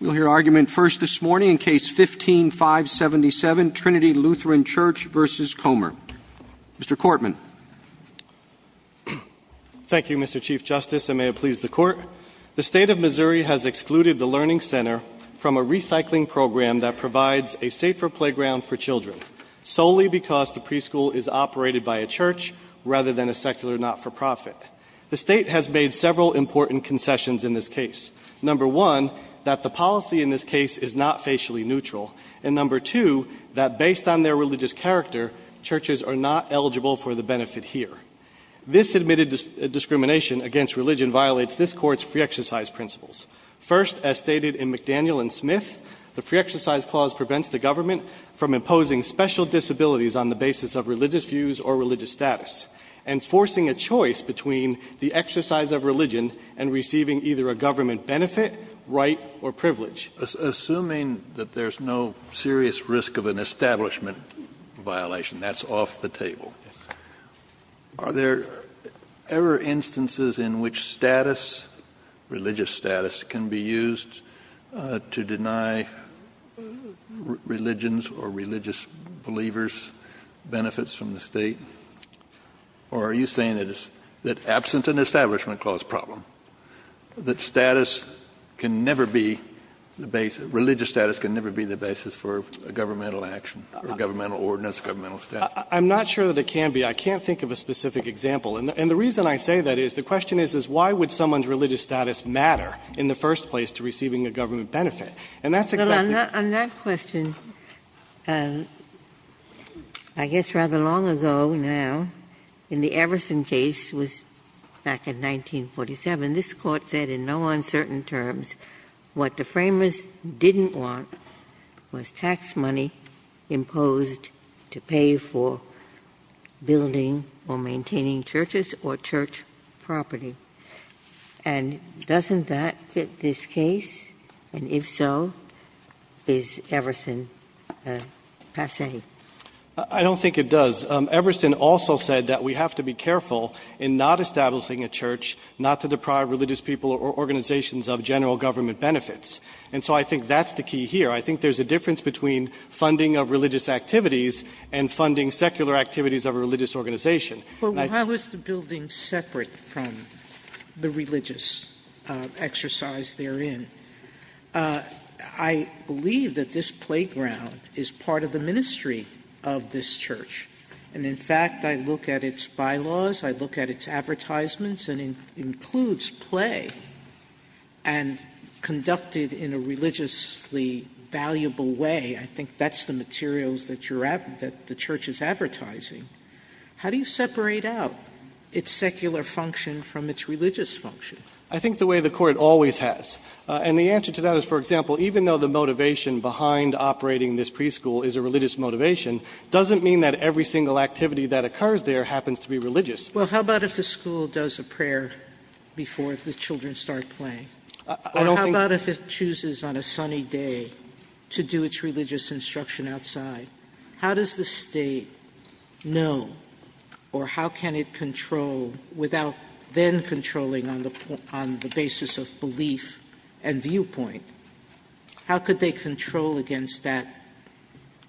We'll hear argument first this morning in Case 15-577, Trinity Lutheran Church v. Comer. Mr. Cortman. Thank you, Mr. Chief Justice, and may it please the Court. The State of Missouri has excluded the Learning Center from a recycling program that provides a safer playground for children, solely because the preschool is operated by a church rather than a secular not-for-profit. The State has made several important concessions in this case. Number one, that the policy in this case is not facially neutral. And number two, that based on their religious character, churches are not eligible for the benefit here. This admitted discrimination against religion violates this Court's free exercise principles. First, as stated in McDaniel and Smith, the free exercise clause prevents the government from imposing special disabilities on the basis of religious views or religious status, and forcing a choice between the exercise of religion and receiving either a government benefit, right, or privilege. Assuming that there's no serious risk of an establishment violation, that's off the table. Yes. Are there ever instances in which status, religious status, can be used to deny religions or religious believers benefits from the State? Or are you saying that it's, that absent an establishment clause problem, that status can never be the basis, religious status can never be the basis for a governmental action, or a governmental ordinance, governmental statute? I'm not sure that it can be. I can't think of a specific example. And the reason I say that is, the question is, is why would someone's religious status matter in the first place to receiving a government benefit? And that's exactly the question. On that question, I guess rather long ago now, in the Everson case was back in 1947, this court said in no uncertain terms, what the framers didn't want was tax money imposed to pay for building or maintaining churches or church property. And doesn't that fit this case? And if so, is Everson passé? I don't think it does. Everson also said that we have to be careful in not establishing a church, not to deprive religious people or organizations of general government benefits. And so I think that's the key here. I think there's a difference between funding of religious activities and funding secular activities of a religious organization. But how is the building separate from the religious exercise therein? I believe that this playground is part of the ministry of this church. And in fact, I look at its bylaws, I look at its advertisements and includes play and conducted in a religiously valuable way. I think that's the materials that the church is advertising. How do you separate out its secular function from its religious function? I think the way the court always has. And the answer to that is, for example, even though the motivation behind operating this preschool is a religious motivation, doesn't mean that every single activity that occurs there happens to be religious. Well, how about if the school does a prayer before the children start playing? Or how about if it chooses on a sunny day to do its religious instruction outside? How does the state know or how can it control without then controlling on the basis of belief and viewpoint? How could they control against that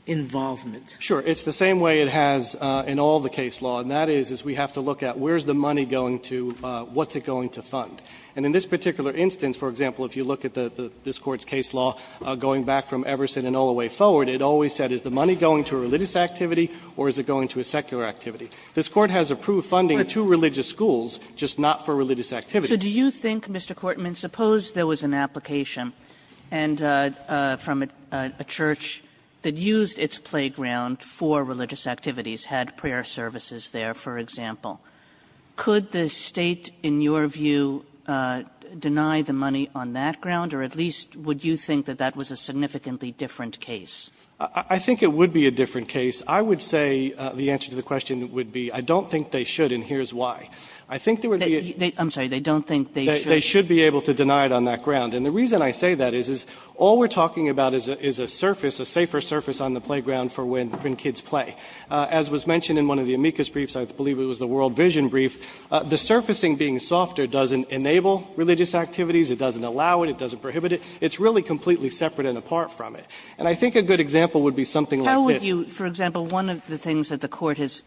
involvement? Sure, it's the same way it has in all the case law. And that is, is we have to look at where's the money going to, what's it going to fund? And in this particular instance, for example, if you look at this court's case law going back from Everson and Everson, is the money going to a religious activity or is it going to a secular activity? This court has approved funding to religious schools, just not for religious activities. Kagan. So do you think, Mr. Courtman, suppose there was an application and from a church that used its playground for religious activities, had prayer services there, for example, could the State, in your view, deny the money on that ground? Or at least would you think that that was a significantly different case? I think it would be a different case. I would say the answer to the question would be I don't think they should, and here's why. I think there would be a they should be able to deny it on that ground. And the reason I say that is, is all we're talking about is a surface, a safer surface on the playground for when kids play. As was mentioned in one of the amicus briefs, I believe it was the World Vision brief, the surfacing being softer doesn't enable religious activities, it doesn't allow it, it doesn't prohibit it, it's really completely separate and apart from it. And I think a good example would be something like this. How would you, for example, one of the things that the Court has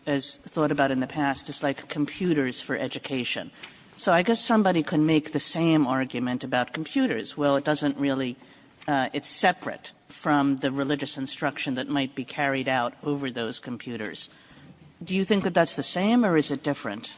thought about in the past is like computers for education. So I guess somebody can make the same argument about computers. Well, it doesn't really, it's separate from the religious instruction that might be carried out over those computers. Do you think that that's the same or is it different?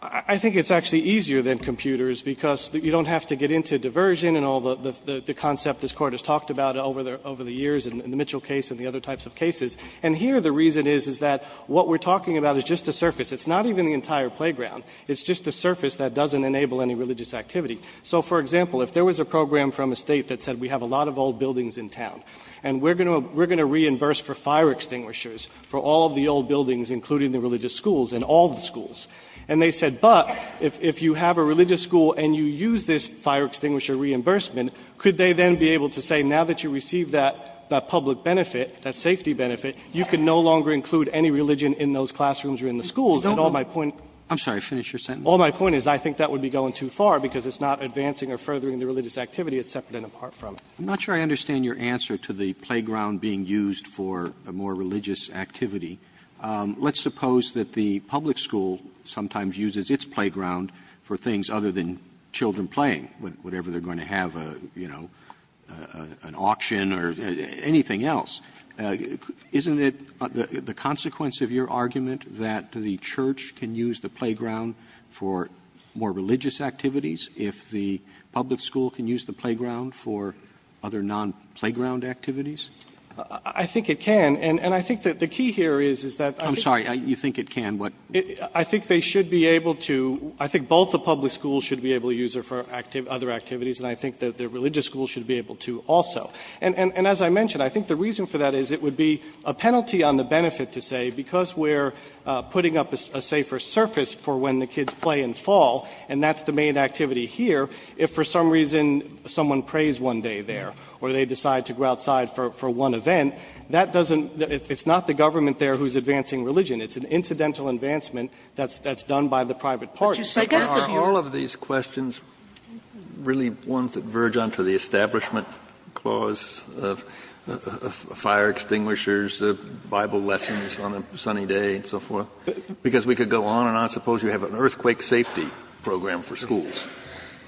I think it's actually easier than computers because you don't have to get into diversion and all the concept this Court has talked about over the years in the Mitchell case and the other types of cases. And here the reason is, is that what we're talking about is just a surface. It's not even the entire playground. It's just a surface that doesn't enable any religious activity. So, for example, if there was a program from a State that said we have a lot of old buildings in town and we're going to reimburse for fire extinguishers for all of the old buildings, including the religious schools, and all the schools. And they said, but if you have a religious school and you use this fire extinguisher reimbursement, could they then be able to say now that you receive that public benefit, that safety benefit, you can no longer include any religion in those classrooms or in the schools. And all my point is I think that would be going too far because it's not advancing or furthering the religious activity. It's separate and apart from it. I'm not sure I understand your answer to the playground being used for a more religious activity. Let's suppose that the public school sometimes uses its playground for things other than children playing, whatever they're going to have, you know, an auction or anything else. Isn't it the consequence of your argument that the church can use the playground for more religious activities if the public school can use the playground for other non-playground activities? I think it can. And I think that the key here is that I'm sorry, you think it can. But I think they should be able to. I think both the public schools should be able to use it for other activities. And I think that the religious school should be able to also. And as I mentioned, I think the reason for that is it would be a penalty on the benefit to say, because we're putting up a safer surface for when the kids play and fall. And that's the main activity here. If for some reason someone prays one day there or they decide to go outside for one event, that doesn't – it's not the government there who's advancing religion. It's an incidental advancement that's done by the private party. Sotomayor, are all of these questions really ones that verge on to the establishment clause of fire extinguishers, Bible lessons on a sunny day and so forth? Because we could go on and on. Suppose you have an earthquake safety program for schools.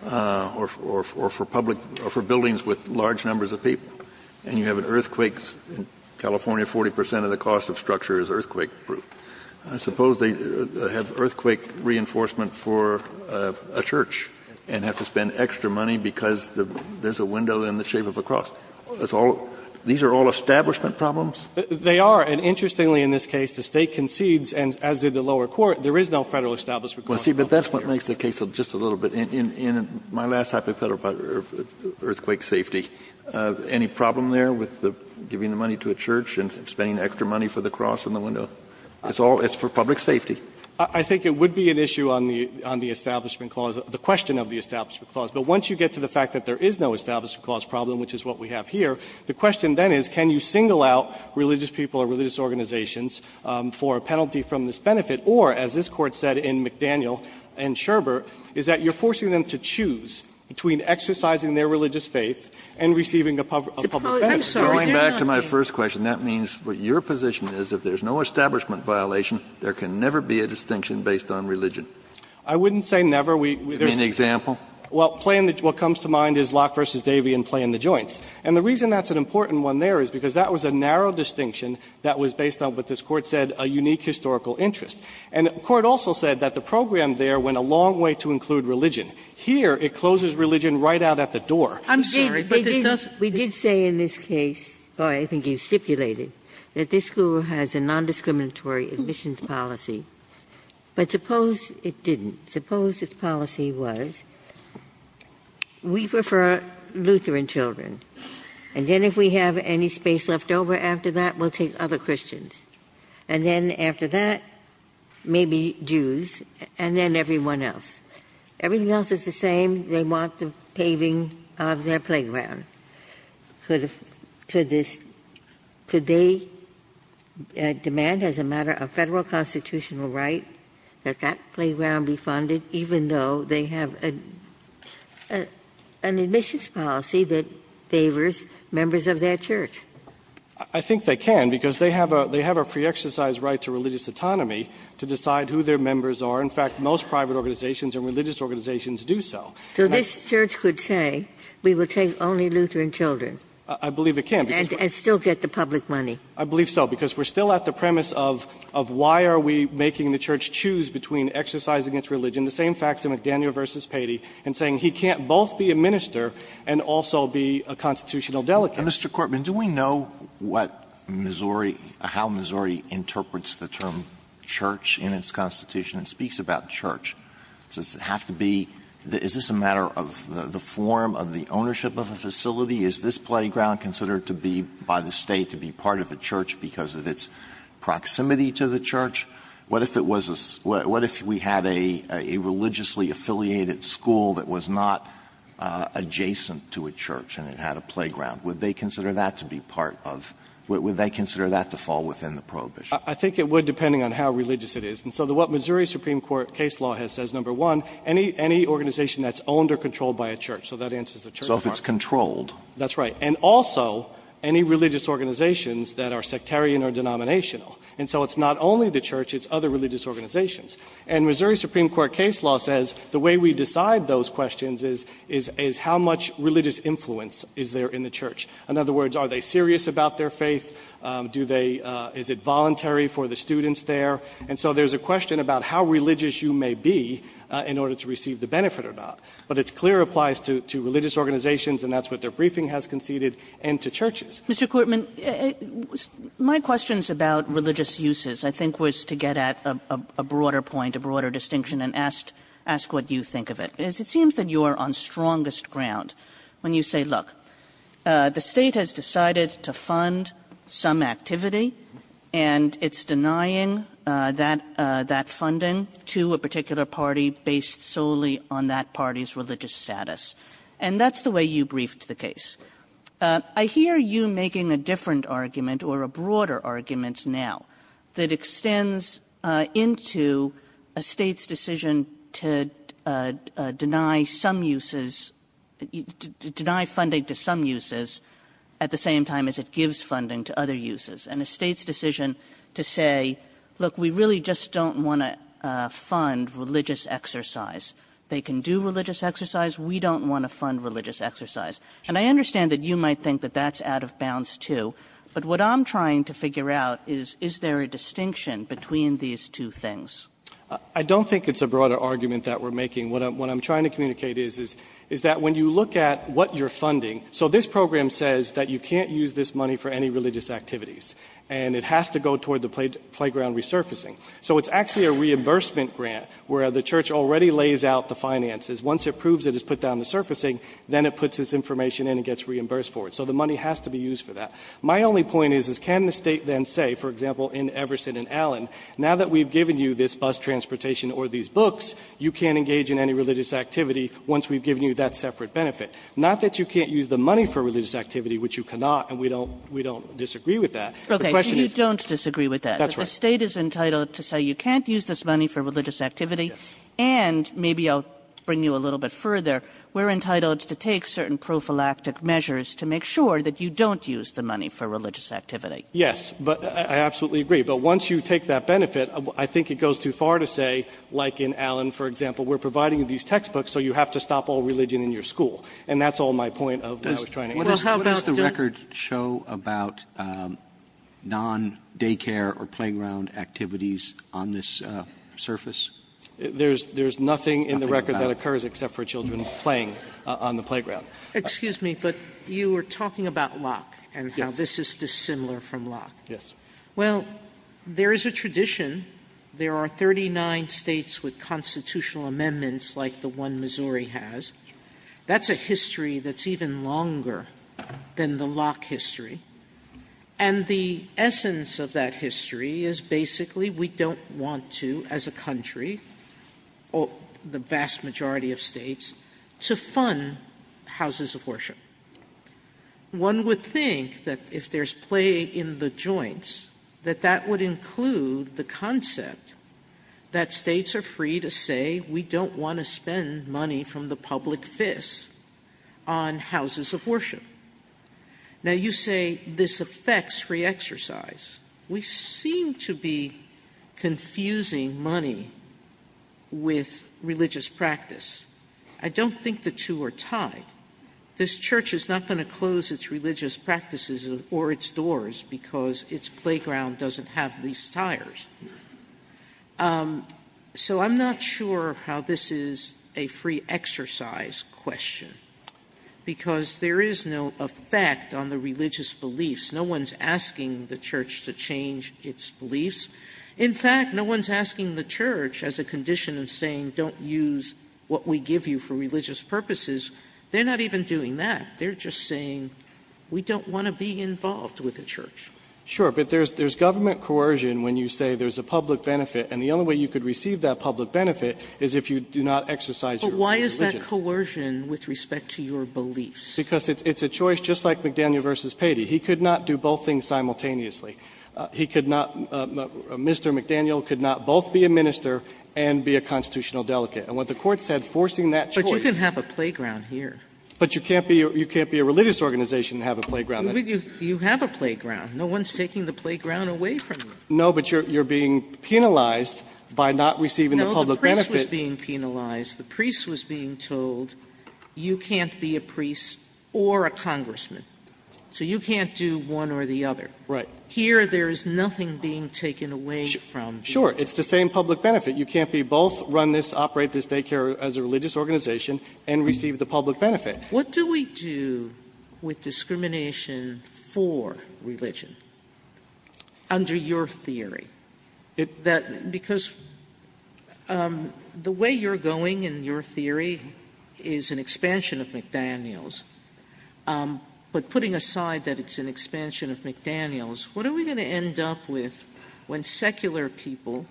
Or for public – or for buildings with large numbers of people. And you have an earthquake in California, 40 percent of the cost of structure is earthquake-proof. Suppose they have earthquake reinforcement for a church and have to spend extra money because there's a window in the shape of a cross. That's all – these are all establishment problems? They are. And interestingly in this case, the State concedes, and as did the lower court, there is no Federal establishment clause here. Kennedy, but that's what makes the case just a little bit. In my last hypothetical about earthquake safety, any problem there with the – giving the money to a church and spending extra money for the cross and the window? It's all – it's for public safety. I think it would be an issue on the – on the establishment clause, the question of the establishment clause. But once you get to the fact that there is no establishment clause problem, which is what we have here, the question then is can you single out religious people or religious organizations for a penalty from this benefit? Or, as this Court said in McDaniel and Scherber, is that you're forcing them to choose between exercising their religious faith and receiving a public benefit. Sotomayor, I'm sorry. Get it on me. Kennedy, going back to my first question, that means what your position is, if there's no establishment violation, there can never be a distinction based on religion. I wouldn't say never. We – there's no – Give me an example. Well, play in the – what comes to mind is Locke v. Davey and play in the joints. And the reason that's an important one there is because that was a narrow distinction that was based on what this Court said, a unique historical interest. And the Court also said that the program there went a long way to include religion. Here, it closes religion right out at the door. I'm sorry, but it doesn't – We did say in this case, or I think you stipulated, that this school has a nondiscriminatory admissions policy. But suppose it didn't. Suppose its policy was, we prefer Lutheran children, and then if we have any space left over after that, we'll take other Christians. And then after that, maybe Jews, and then everyone else. Everything else is the same. They want the paving of their playground. Could this – could they demand as a matter of federal constitutional right that that playground be funded, even though they have an admissions policy that favors members of their church? I think they can, because they have a free exercise right to religious autonomy to decide who their members are. In fact, most private organizations and religious organizations do so. So this church could say, we will take only Lutheran children. I believe it can. And still get the public money. I believe so, because we're still at the premise of why are we making the church choose between exercising its religion, the same facts in McDaniel v. Patey, and saying he can't both be a minister and also be a constitutional delegate. Mr. Corbyn, do we know what Missouri – how Missouri interprets the term church in its constitution? It speaks about church. Does it have to be – is this a matter of the form of the ownership of a facility? Is this playground considered to be by the State to be part of a church because of its proximity to the church? What if it was a – what if we had a religiously affiliated school that was not adjacent to a church and it had a playground? Would they consider that to be part of – would they consider that to fall within the prohibition? I think it would, depending on how religious it is. And so what Missouri Supreme Court case law has said is, number one, any organization that's owned or controlled by a church. So that answers the church part. So if it's controlled. That's right. And also, any religious organizations that are sectarian or denominational. And so it's not only the church. It's other religious organizations. And Missouri Supreme Court case law says the way we decide those questions is how much religious influence is there in the church? In other words, are they serious about their faith? Do they – is it voluntary for the students there? And so there's a question about how religious you may be in order to receive the benefit or not. But it's clear it applies to religious organizations, and that's what their briefing has conceded, and to churches. Mr. Courtman, my questions about religious uses, I think, was to get at a broader point, a broader distinction, and ask what you think of it. Because it seems that you are on strongest ground when you say, look, the state has decided to fund some activity, and it's denying that funding to a particular party based solely on that party's religious status. And that's the way you briefed the case. I hear you making a different argument, or a broader argument now, that extends into a state's decision to deny some uses – to deny funding to some uses at the same time as it gives funding to other uses, and a state's decision to say, look, we really just don't want to fund religious exercise. They can do religious exercise. We don't want to fund religious exercise. And I understand that you might think that that's out of bounds, too. But what I'm trying to figure out is, is there a distinction between these two things? I don't think it's a broader argument that we're making. What I'm trying to communicate is that when you look at what you're funding – so this program says that you can't use this money for any religious activities, and it has to go toward the playground resurfacing. So it's actually a reimbursement grant where the church already lays out the finances. Once it proves it has put down the surfacing, then it puts this information in and gets reimbursed for it. So the money has to be used for that. My only point is, is can the State then say, for example, in Everson and Allen, now that we've given you this bus transportation or these books, you can't engage in any religious activity once we've given you that separate benefit? Not that you can't use the money for religious activity, which you cannot, and we don't – we don't disagree with that. The question is – Kagan. You don't disagree with that. That's right. The State is entitled to say you can't use this money for religious activity. Yes. And maybe I'll bring you a little bit further. We're entitled to take certain prophylactic measures to make sure that you don't use the money for religious activity. Yes. But I absolutely agree. But once you take that benefit, I think it goes too far to say, like in Allen, for example, we're providing you these textbooks, so you have to stop all religion in your school. And that's all my point of what I was trying to answer. Well, how about the record show about non-daycare or playground activities on this surface? There's nothing in the record that occurs except for children playing on the playground. Excuse me, but you were talking about Locke and how this is dissimilar from Locke. Yes. Well, there is a tradition. There are 39 States with constitutional amendments like the one Missouri has. That's a history that's even longer than the Locke history. And the essence of that history is basically we don't want to, as a country, or the state, spend money on houses of worship. One would think that if there's play in the joints, that that would include the concept that States are free to say we don't want to spend money from the public fist on houses of worship. Now, you say this affects free exercise. We seem to be confusing money with religious practice. I don't think the two are tied. This Church is not going to close its religious practices or its doors because its playground doesn't have these tires. So I'm not sure how this is a free exercise question, because there is no effect on the religious beliefs. No one's asking the Church to change its beliefs. In fact, no one's asking the Church as a condition of saying don't use what we give you for religious purposes. They're not even doing that. They're just saying we don't want to be involved with the Church. Sure. But there's government coercion when you say there's a public benefit, and the only way you could receive that public benefit is if you do not exercise your religious beliefs. But why is that coercion with respect to your beliefs? Because it's a choice just like McDaniel v. Patey. He could not do both things simultaneously. He could not — Mr. McDaniel could not both be a minister and be a constitutional delegate. And what the Court said, forcing that choice — But you can have a playground here. But you can't be a religious organization and have a playground. You have a playground. No one's taking the playground away from you. No, but you're being penalized by not receiving the public benefit. No, the priest was being penalized. The priest was being told you can't be a priest or a congressman. So you can't do one or the other. Right. Here, there is nothing being taken away from you. Sure. It's the same public benefit. You can't be both, run this, operate this daycare as a religious organization and receive the public benefit. What do we do with discrimination for religion under your theory? Because the way you're going in your theory is an expansion of McDaniel's. But putting aside that it's an expansion of McDaniel's, what are we going to end up with when secular people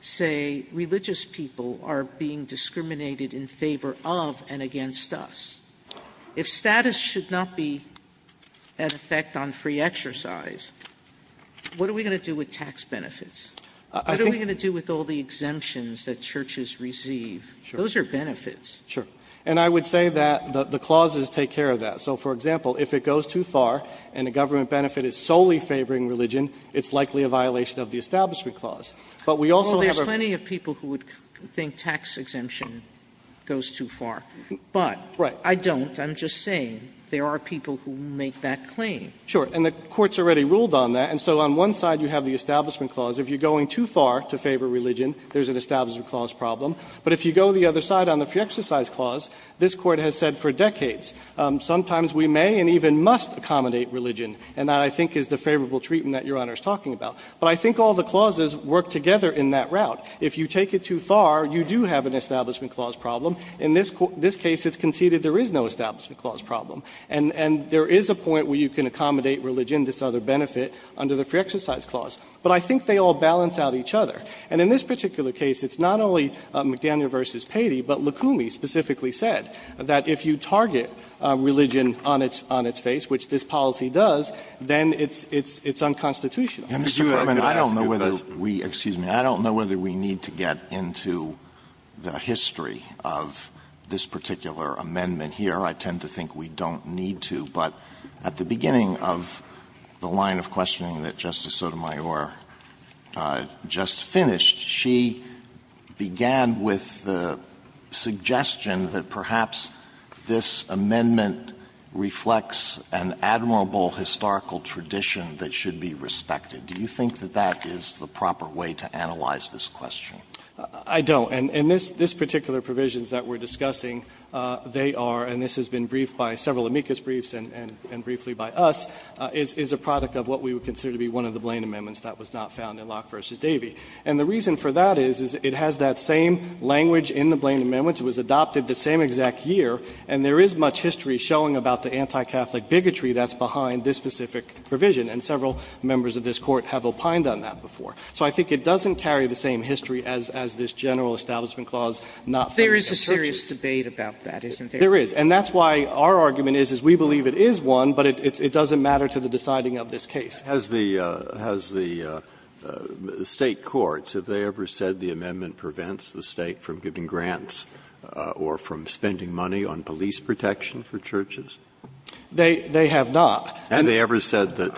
say religious people are being discriminated in favor of and against us? If status should not be at effect on free exercise, what are we going to do with tax benefits? What are we going to do with all the exemptions that churches receive? Those are benefits. Sure. And I would say that the clauses take care of that. So, for example, if it goes too far and the government benefit is solely favoring religion, it's likely a violation of the Establishment Clause. But we also have a ---- Well, there's plenty of people who would think tax exemption goes too far. But I don't. I'm just saying there are people who make that claim. Sure. And the Court's already ruled on that. And so on one side you have the Establishment Clause. If you're going too far to favor religion, there's an Establishment Clause problem. But if you go the other side on the free exercise clause, this Court has said for decades, sometimes we may and even must accommodate religion. And that, I think, is the favorable treatment that Your Honor is talking about. But I think all the clauses work together in that route. If you take it too far, you do have an Establishment Clause problem. In this case, it's conceded there is no Establishment Clause problem. And there is a point where you can accommodate religion, this other benefit, under the free exercise clause. But I think they all balance out each other. And in this particular case, it's not only McDaniel v. Patey, but Lukumi specifically said that if you target religion on its face, which this policy does, then it's unconstitutional. Alito, I'm going to ask you a question. Alito, I don't know whether we need to get into the history of this particular amendment here. I tend to think we don't need to. But at the beginning of the line of questioning that Justice Sotomayor just finished, she began with the suggestion that perhaps this amendment reflects an admirable historical tradition that should be respected. Do you think that that is the proper way to analyze this question? I don't. And this particular provision that we're discussing, they are, and this has been briefed by several amicus briefs and briefly by us, is a product of what we would consider to be one of the Blaine amendments that was not found in Locke v. Davey. And the reason for that is, is it has that same language in the Blaine amendments. It was adopted the same exact year, and there is much history showing about the anti-Catholic bigotry that's behind this specific provision. And several members of this Court have opined on that before. So I think it doesn't carry the same history as this general establishment clause not found in the exertion. Sotomayor, There is a serious debate about that, isn't there? There is. And that's why our argument is, is we believe it is one, but it doesn't matter to the deciding of this case. Breyer. Has the State courts, have they ever said the amendment prevents the State from giving grants or from spending money on police protection for churches? They have not. Have they ever said that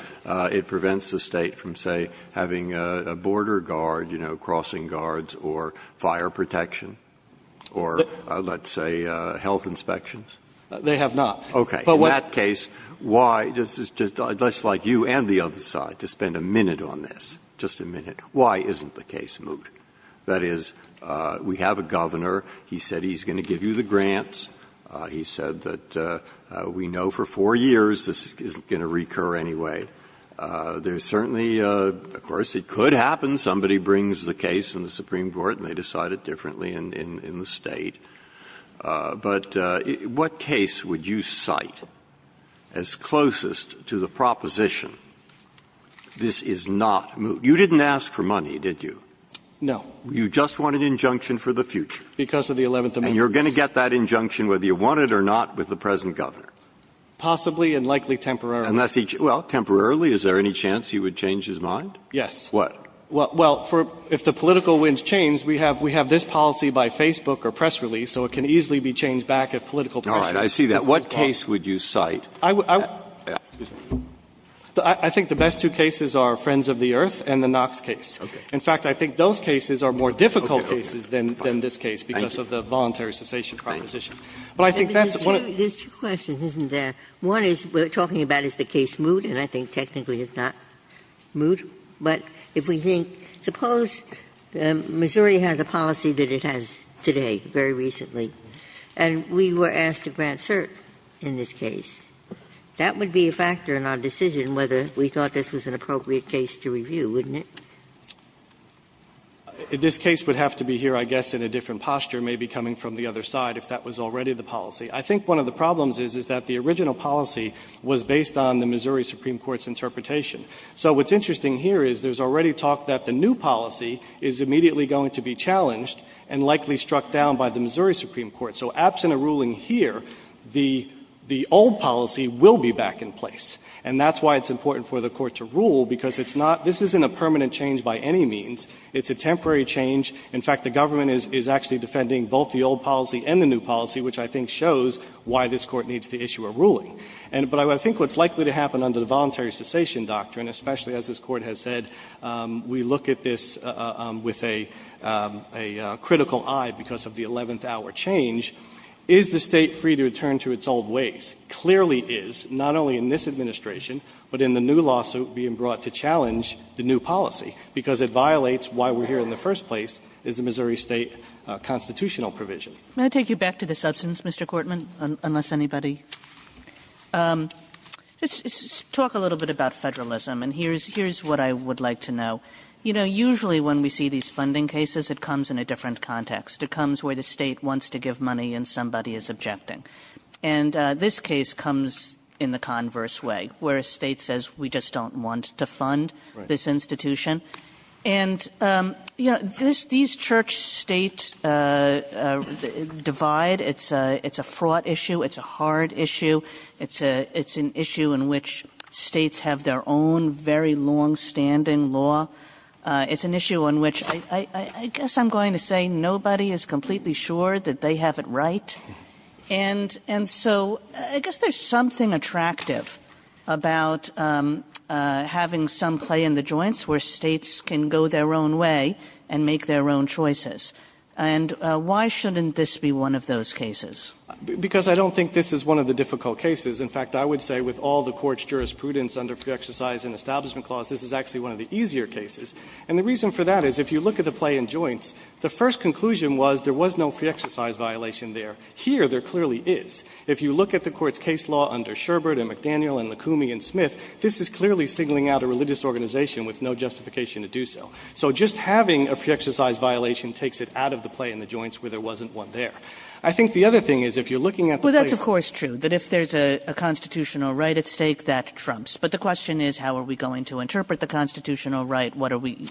it prevents the State from, say, having a border guard, you know, crossing guards or fire protection or, let's say, health inspections? They have not. Okay. In that case, why, just like you and the other side, to spend a minute on this, just a minute, why isn't the case moved? That is, we have a governor. He said he's going to give you the grants. He said that we know for four years this isn't going to recur anyway. There's certainly, of course, it could happen. Somebody brings the case in the Supreme Court and they decide it differently in the State. But what case would you cite as closest to the proposition, this is not moved? You didn't ask for money, did you? No. You just want an injunction for the future. Because of the Eleventh Amendment. And you're going to get that injunction whether you want it or not with the present governor. Possibly and likely temporarily. Unless he, well, temporarily, is there any chance he would change his mind? Yes. What? Well, if the political winds change, we have this policy by Facebook or press release, so it can easily be changed back if political pressure is put on. All right. I see that. What case would you cite? I think the best two cases are Friends of the Earth and the Knox case. In fact, I think those cases are more difficult cases than this case because of the voluntary cessation proposition. But I think that's what I'm saying. There's two questions, isn't there? One is, we're talking about is the case moved, and I think technically it's not moved. But if we think, suppose Missouri has a policy that it has today, very recently, and we were asked to grant cert in this case. That would be a factor in our decision whether we thought this was an appropriate case to review, wouldn't it? This case would have to be here, I guess, in a different posture, maybe coming from the other side, if that was already the policy. I think one of the problems is, is that the original policy was based on the Missouri Supreme Court's interpretation. So what's interesting here is there's already talk that the new policy is immediately going to be challenged and likely struck down by the Missouri Supreme Court. So absent a ruling here, the old policy will be back in place. And that's why it's important for the Court to rule, because it's not — this isn't a permanent change by any means. It's a temporary change. In fact, the government is actually defending both the old policy and the new policy, which I think shows why this Court needs to issue a ruling. But I think what's likely to happen under the Voluntary Cessation Doctrine, especially as this Court has said, we look at this with a critical eye because of the eleventh-hour change, is the State free to return to its old ways? Clearly is, not only in this administration, but in the new lawsuit being brought to challenge the new policy, because it violates why we're here in the first place, is the Missouri State constitutional provision. Kagan. Kagan. Kagan. Can I take you back to the substance, Mr. Cortman, unless anybody — let's talk a little bit about Federalism, and here's what I would like to know. You know, usually when we see these funding cases, it comes in a different context. It comes where the State wants to give money, and somebody is objecting. And this case comes in the converse way, where a State says, we just don't want to fund this institution. And, you know, these Church-State divide, it's a fraught issue, it's a hard issue. It's an issue in which States have their own very longstanding law. It's an issue on which I guess I'm going to say nobody is completely sure that they have it right. And so I guess there's something attractive about having some clay in the joints where States can go their own way and make their own choices. And why shouldn't this be one of those cases? Because I don't think this is one of the difficult cases. In fact, I would say with all the Court's jurisprudence under Free Exercise and Establishment Clause, this is actually one of the easier cases. And the reason for that is if you look at the clay in joints, the first conclusion was there was no free exercise violation there. Here, there clearly is. If you look at the Court's case law under Sherbert and McDaniel and Lucumi and Smith, this is clearly singling out a religious organization with no justification to do so. So just having a free exercise violation takes it out of the clay in the joints where there wasn't one there. I think the other thing is if you're looking at the clay in the joints. Kagan. Kagan. Kagan. Well, that's of course true, that if there's a constitutional right at stake, that trumps. But the question is, how are we going to interpret the constitutional right? What are we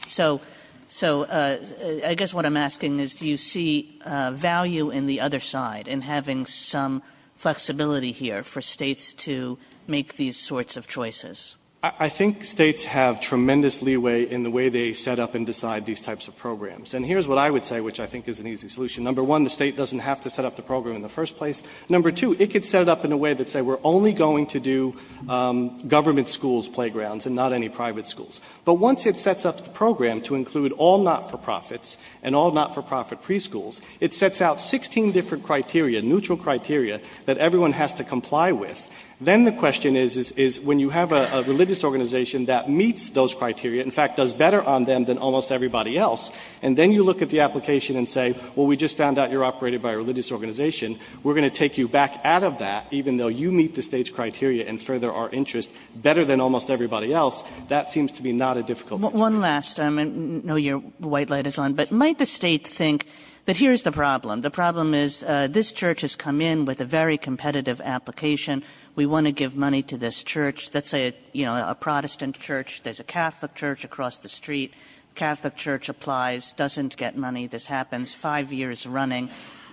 so I guess what I'm asking is do you see value in the other side in having some flexibility here for states to make these sorts of choices? I think states have tremendous leeway in the way they set up and decide these types of programs. And here's what I would say, which I think is an easy solution. Number one, the state doesn't have to set up the program in the first place. Number two, it could set it up in a way that say we're only going to do government schools, playgrounds and not any private schools. But once it sets up the program to include all not for profits and all not for profit preschools, it sets out 16 different criteria, neutral criteria, that everyone has to comply with. Then the question is, is when you have a religious organization that meets those criteria, in fact does better on them than almost everybody else, and then you look at the application and say, well, we just found out you're operated by a religious organization, we're going to take you back out of that even though you meet the state's criteria and further our interest better than almost everybody else, that seems to be not a difficult choice. One last time, I know your white light is on, but might the state think that here's the problem. The problem is this church has come in with a very competitive application. We want to give money to this church, let's say a Protestant church. There's a Catholic church across the street. Catholic church applies, doesn't get money. This happens five years running.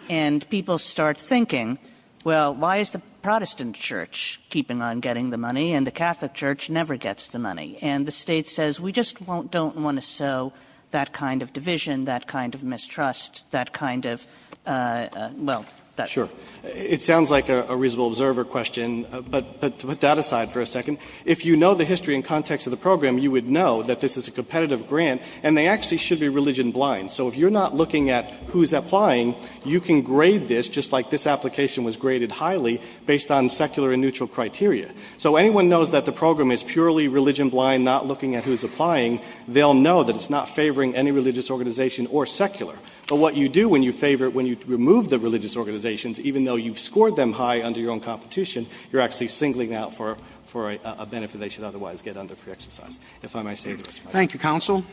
And people start thinking, well, why is the Protestant church keeping on getting the money and the Catholic church never gets the money? And the state says, we just don't want to sow that kind of division, that kind of mistrust, that kind of, well, that's- Sure. It sounds like a reasonable observer question, but to put that aside for a second, if you know the history and context of the program, you would know that this is a competitive grant and they actually should be religion blind. So if you're not looking at who's applying, you can grade this just like this application was graded highly based on secular and neutral criteria. So anyone knows that the program is purely religion blind, not looking at who's applying, they'll know that it's not favoring any religious organization or secular. But what you do when you favor it, when you remove the religious organizations, even though you've scored them high under your own competition, you're actually singling out for a benefit they should otherwise get under free exercise. If I may say the rest of my time. Thank you, counsel.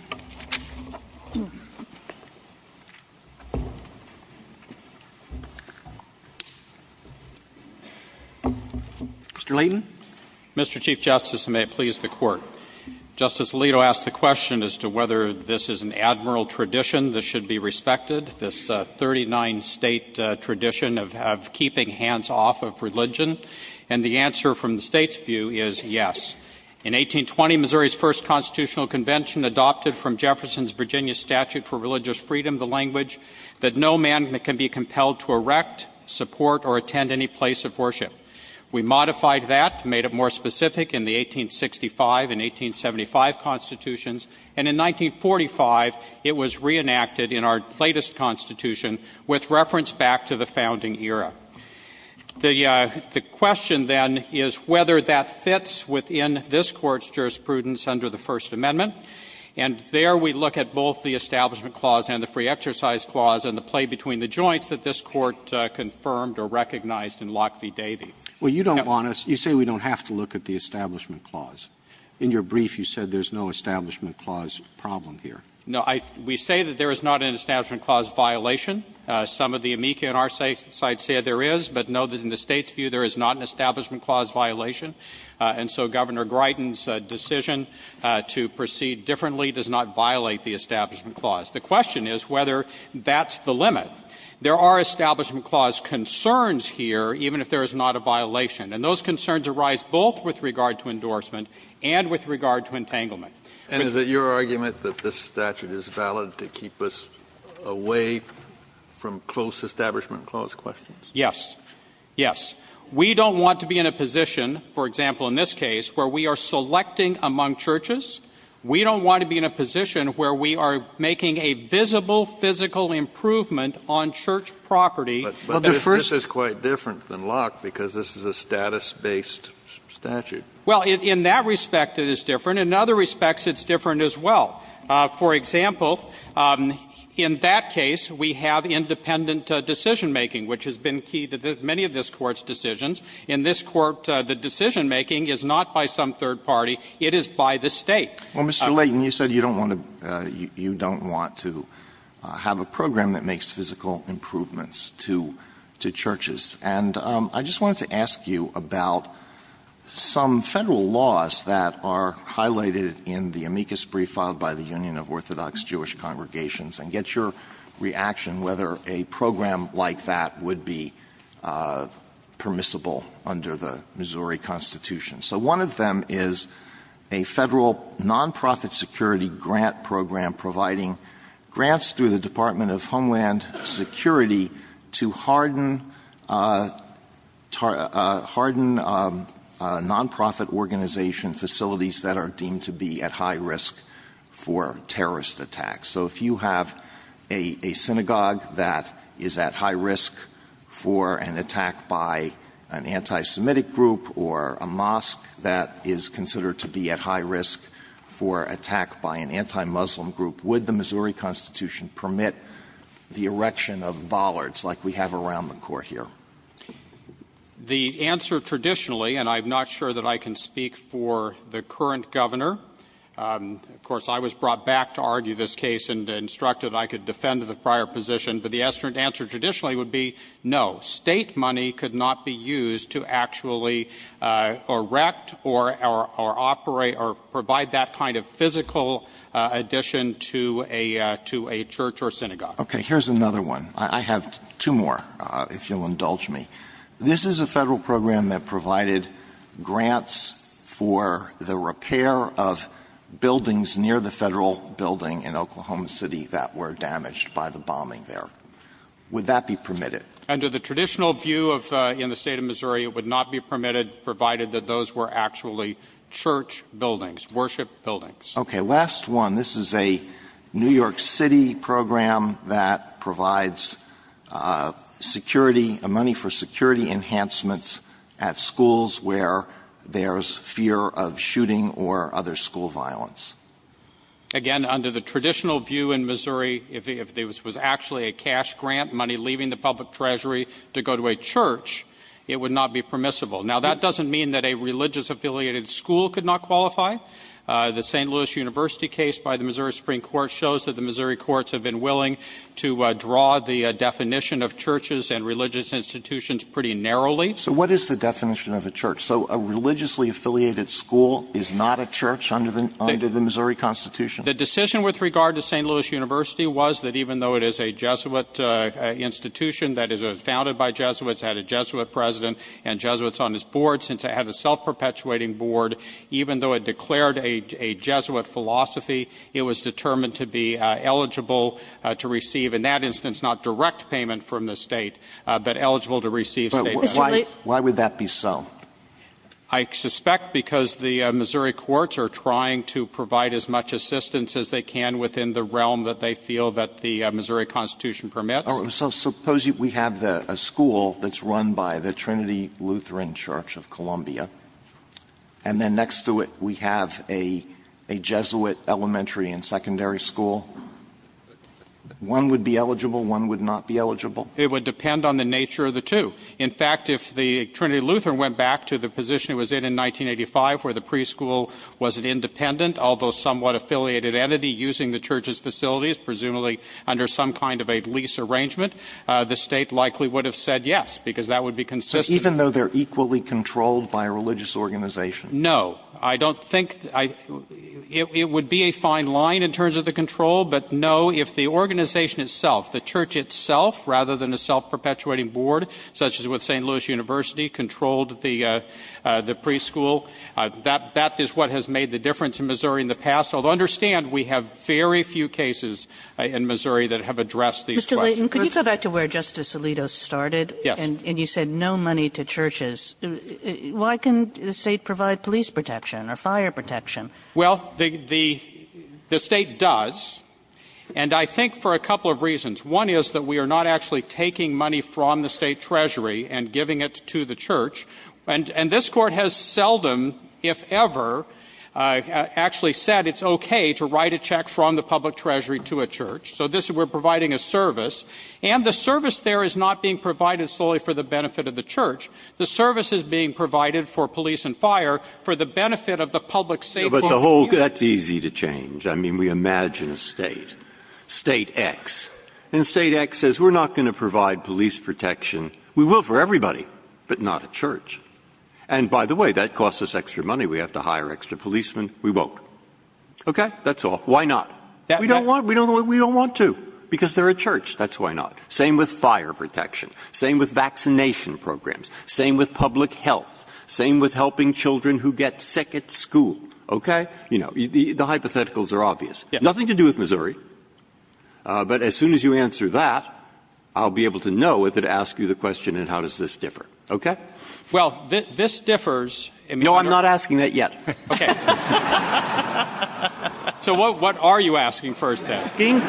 Mr. Layton. Mr. Chief Justice, and may it please the Court. Justice Alito asked the question as to whether this is an admiral tradition that should be respected, this 39-state tradition of keeping hands off of religion. And the answer from the State's view is yes. In 1820, Missouri's first constitutional convention adopted from Jefferson's Virginia Statute for Religious Freedom the language that no man can be compelled to erect, support, or attend any place of worship. We modified that, made it more specific in the 1865 and 1875 constitutions. And in 1945, it was reenacted in our latest constitution with reference back to the founding era. The question then is whether that fits within this Court's jurisprudence under the First Amendment. And there we look at both the Establishment Clause and the Free Exercise Clause and the play between the joints that this Court confirmed or recognized in Locke v. Davey. Well, you don't want us — you say we don't have to look at the Establishment Clause. In your brief, you said there's no Establishment Clause problem here. No. We say that there is not an Establishment Clause violation. Some of the amici on our side say there is, but know that in the State's view, there is not an Establishment Clause violation. And so Governor Greiten's decision to proceed differently does not violate the Establishment Clause. The question is whether that's the limit. There are Establishment Clause concerns here, even if there is not a violation. And those concerns arise both with regard to endorsement and with regard to entanglement. And is it your argument that this statute is valid to keep us away from close Establishment Clause questions? Yes. Yes. We don't want to be in a position, for example in this case, where we are selecting among churches. We don't want to be in a position where we are making a visible physical improvement on church property. But this is quite different than Locke because this is a status-based statute. Well, in that respect, it is different. In other respects, it's different as well. For example, in that case, we have independent decision-making, which has been key to many of this Court's decisions. In this Court, the decision-making is not by some third party. It is by the State. Well, Mr. Layton, you said you don't want to have a program that makes physical improvements to churches. And I just wanted to ask you about some Federal laws that are highlighted in the amicus brief filed by the Union of Orthodox Jewish Congregations and get your reaction whether a program like that would be permissible under the Missouri Constitution. So one of them is a Federal nonprofit security grant program providing grants through the Department of Homeland Security to harden nonprofit organization facilities that are deemed to be at high risk for terrorist attacks. So if you have a synagogue that is at high risk for an attack by an anti-Semitic group or a mosque that is considered to be at high risk for attack by an anti-Muslim group, would the Missouri Constitution permit the erection of bollards like we have around the Court here? The answer traditionally, and I'm not sure that I can speak for the current Governor of course, I was brought back to argue this case and instructed I could defend the prior position, but the answer traditionally would be no. State money could not be used to actually erect or operate or provide that kind of physical addition to a church or synagogue. Okay. Here's another one. I have two more, if you'll indulge me. This is a Federal program that provided grants for the repair of buildings near the Federal building in Oklahoma City that were damaged by the bombing there. Would that be permitted? Under the traditional view in the State of Missouri, it would not be permitted, provided that those were actually church buildings, worship buildings. Okay. Last one. This is a New York City program that provides security, money for security enhancements at schools where there's fear of shooting or other school violence. Again, under the traditional view in Missouri, if this was actually a cash grant, money leaving the public treasury to go to a church, it would not be permissible. Now, that doesn't mean that a religious-affiliated school could not qualify. The St. Louis University case by the Missouri Supreme Court shows that the Missouri courts have been willing to draw the definition of churches and religious institutions pretty narrowly. So what is the definition of a church? So a religiously-affiliated school is not a church under the Missouri Constitution? The decision with regard to St. Louis University was that even though it is a Jesuit institution that is founded by Jesuits, had a Jesuit president and Jesuits on his board, since it had a self-perpetuating board, even though it declared a Jesuit philosophy, it was determined to be eligible to receive, in that instance, not direct payment from the state, but eligible to receive state money. Why would that be so? I suspect because the Missouri courts are trying to provide as much assistance as they can within the realm that they feel that the Missouri Constitution permits. So suppose we have a school that's run by the Trinity Lutheran Church of Columbia, and then next to it we have a Jesuit elementary and secondary school. One would be eligible, one would not be eligible? It would depend on the nature of the two. In fact, if the Trinity Lutheran went back to the position it was in in 1985, where the preschool was an independent, although somewhat affiliated entity, using the church's facilities, presumably under some kind of a lease arrangement, the state likely would have said yes, because that would be consistent. But even though they're equally controlled by a religious organization? No. I don't think — it would be a fine line in terms of the control, but no. If the organization itself, the church itself, rather than a self-perpetuating board such as with St. Louis University, controlled the preschool, that is what has made the difference in Missouri in the past, although understand we have very few cases in Missouri that have addressed these questions. Mr. Layton, could you go back to where Justice Alito started? Yes. And you said no money to churches. Why can't the state provide police protection or fire protection? Well, the state does, and I think for a couple of reasons. One is that we are not actually taking money from the state treasury and giving it to the church. And this Court has seldom, if ever, actually said it's okay to write a check from the public treasury to a church. So this — we're providing a service. And the service there is not being provided solely for the benefit of the church. The service is being provided for police and fire for the benefit of the public safety. But the whole — that's easy to change. I mean, we imagine a state. State X. And state X says we're not going to provide police protection. We will for everybody, but not a church. And by the way, that costs us extra money. We have to hire extra policemen. We won't. Okay? That's all. Why not? We don't want to. Because they're a church. That's why not. Same with fire protection. Same with vaccination programs. Same with public health. Same with helping children who get sick at school. Okay? You know, the hypotheticals are obvious. Nothing to do with Missouri. But as soon as you answer that, I'll be able to know if it asks you the question in how does this differ. Okay? Well, this differs — No, I'm not asking that yet. Okay. So what are you asking first, then?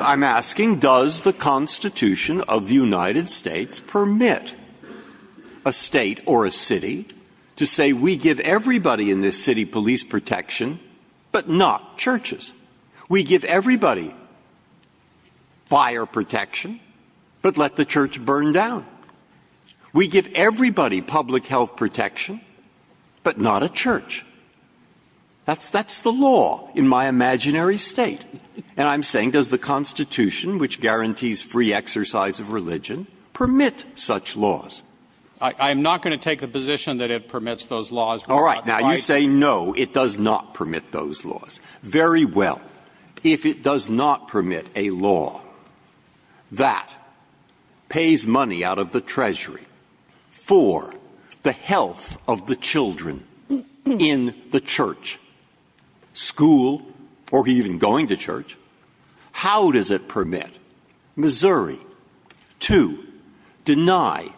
I'm asking does the Constitution of the United States permit a state or a city to say we give everybody in this city police protection, but not churches? We give everybody fire protection, but let the church burn down. We give everybody public health protection, but not a church. That's the law in my imaginary state. And I'm saying does the Constitution, which guarantees free exercise of religion, permit such laws? I am not going to take the position that it permits those laws. All right. Now, you say no, it does not permit those laws. Very well. If it does not permit a law that pays money out of the treasury for the health of the children in the church, school, or even going to church, how does it permit Missouri to deny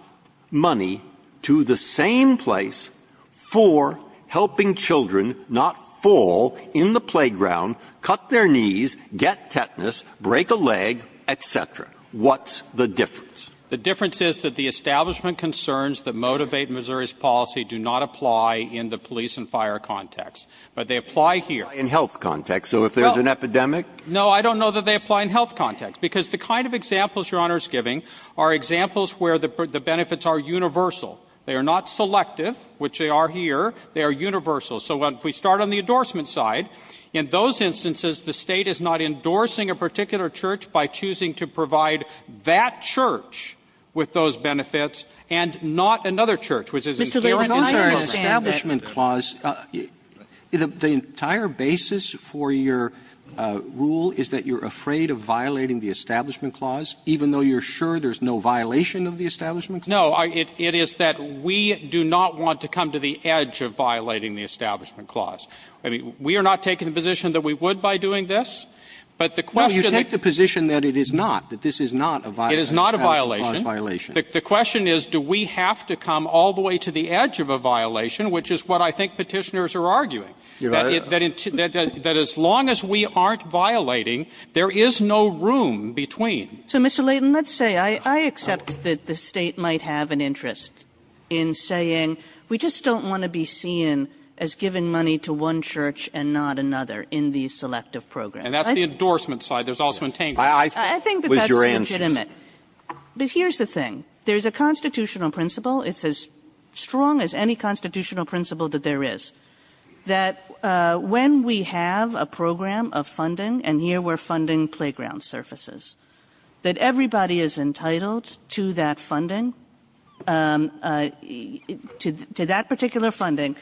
money to the same place for helping children not fall in the playground, cut their knees, get tetanus, break a leg, et cetera? What's the difference? The difference is that the establishment concerns that motivate Missouri's policy do not apply in the police and fire context. But they apply here. In health context. So if there's an epidemic — No, I don't know that they apply in health context. Because the kind of examples Your Honor is giving are examples where the benefits are universal. They are not selective, which they are here. They are universal. So if we start on the endorsement side, in those instances, the State is not endorsing a particular church by choosing to provide that church with those benefits and not another church, which is a — Mr. Levin, I understand that — Those are an establishment clause. The entire basis for your rule is that you're afraid of violating the establishment clause, even though you're sure there's no violation of the establishment clause? No. It is that we do not want to come to the edge of violating the establishment clause. I mean, we are not taking the position that we would by doing this. But the question — No, you take the position that it is not, that this is not a violation. It is not a violation. A violation. The question is, do we have to come all the way to the edge of a violation, which is what I think Petitioners are arguing, that as long as we aren't violating, there is no room between. So, Mr. Layton, let's say I accept that the State might have an interest in saying we just don't want to be seen as giving money to one church and not another in these selective programs. And that's the endorsement side. There's also — I think that that's legitimate. But here's the thing. There's a constitutional principle. It's as strong as any constitutional principle that there is, that when we have a program of funding, and here we're funding playground surfaces, that everybody is entitled to that funding, to that particular funding,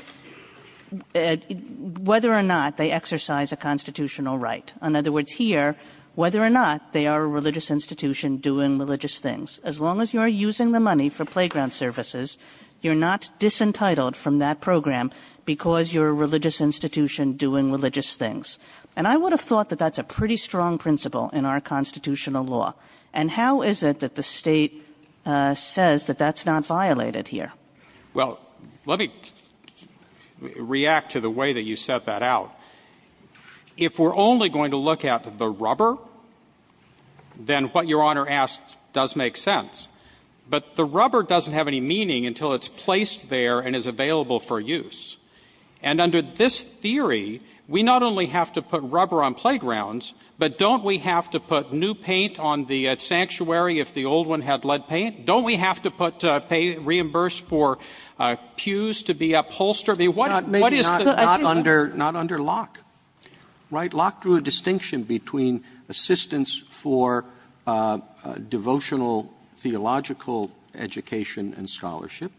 whether or not they exercise a constitutional right. In other words, here, whether or not they are a religious institution doing religious things, as long as you are using the money for playground surfaces, you're not disentitled from that program because you're a religious institution doing religious things. And I would have thought that that's a pretty strong principle in our constitutional law. And how is it that the State says that that's not violated here? Well, let me react to the way that you set that out. If we're only going to look at the rubber, then what Your Honor asked does make sense. But the rubber doesn't have any meaning until it's placed there and is available for use. And under this theory, we not only have to put rubber on playgrounds, but don't we have to put new paint on the sanctuary if the old one had lead paint? Don't we have to put — reimburse for pews to be upholstered? I mean, what is the — Not under Locke, right? Locke drew a distinction between assistance for devotional theological education and scholarship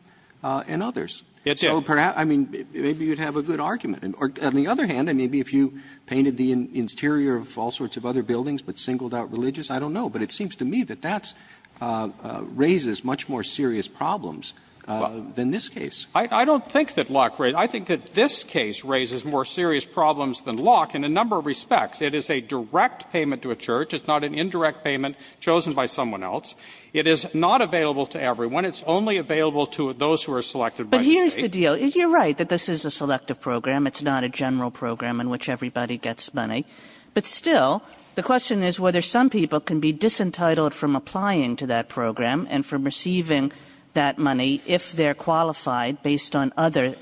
and others. It did. So perhaps — I mean, maybe you'd have a good argument. Or on the other hand, I mean, if you painted the interior of all sorts of other buildings but singled out religious, I don't know. But it seems to me that that raises much more serious problems than this case. I don't think that Locke — I think that this raises more serious problems than Locke in a number of respects. It is a direct payment to a church. It's not an indirect payment chosen by someone else. It is not available to everyone. It's only available to those who are selected by the State. But here's the deal. You're right that this is a selective program. It's not a general program in which everybody gets money. But still, the question is whether some people can be disentitled from applying to that program and from receiving that money if they're qualified based on other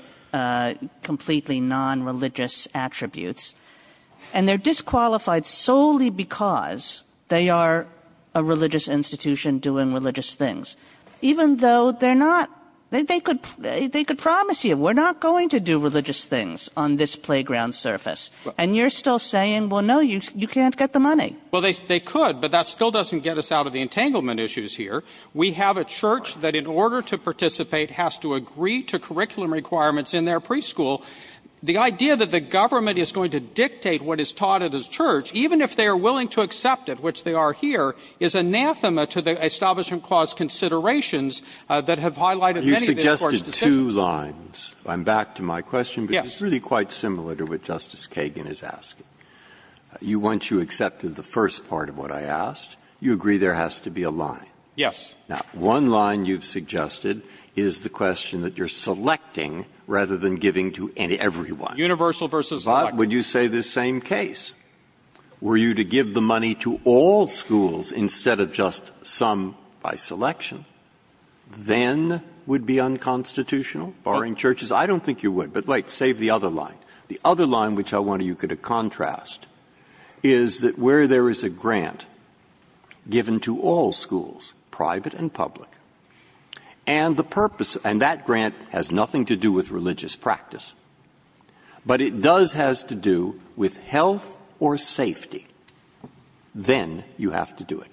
completely non-religious attributes. And they're disqualified solely because they are a religious institution doing religious things, even though they're not — they could promise you, we're not going to do religious things on this playground surface. And you're still saying, well, no, you can't get the money. Well, they could. But that still doesn't get us out of the entanglement issues here. We have a church that, in order to participate, has to agree to curriculum requirements in their preschool. The idea that the government is going to dictate what is taught at its church, even if they are willing to accept it, which they are here, is anathema to the Establishment Clause considerations that have highlighted many of these Court's decisions. You suggested two lines. I'm back to my question. Yes. But it's really quite similar to what Justice Kagan is asking. Once you accepted the first part of what I asked, you agree there has to be a line. Yes. Now, one line you've suggested is the question that you're selecting, rather than giving to everyone. Universal versus collective. But would you say the same case? Were you to give the money to all schools instead of just some by selection, then would be unconstitutional, barring churches? I don't think you would. But wait. Save the other line. The other line, which I want you to contrast, is that where there is a grant given to all schools, private and public, and the purpose, and that grant has nothing to do with religious practice, but it does has to do with health or safety, then you have to do it.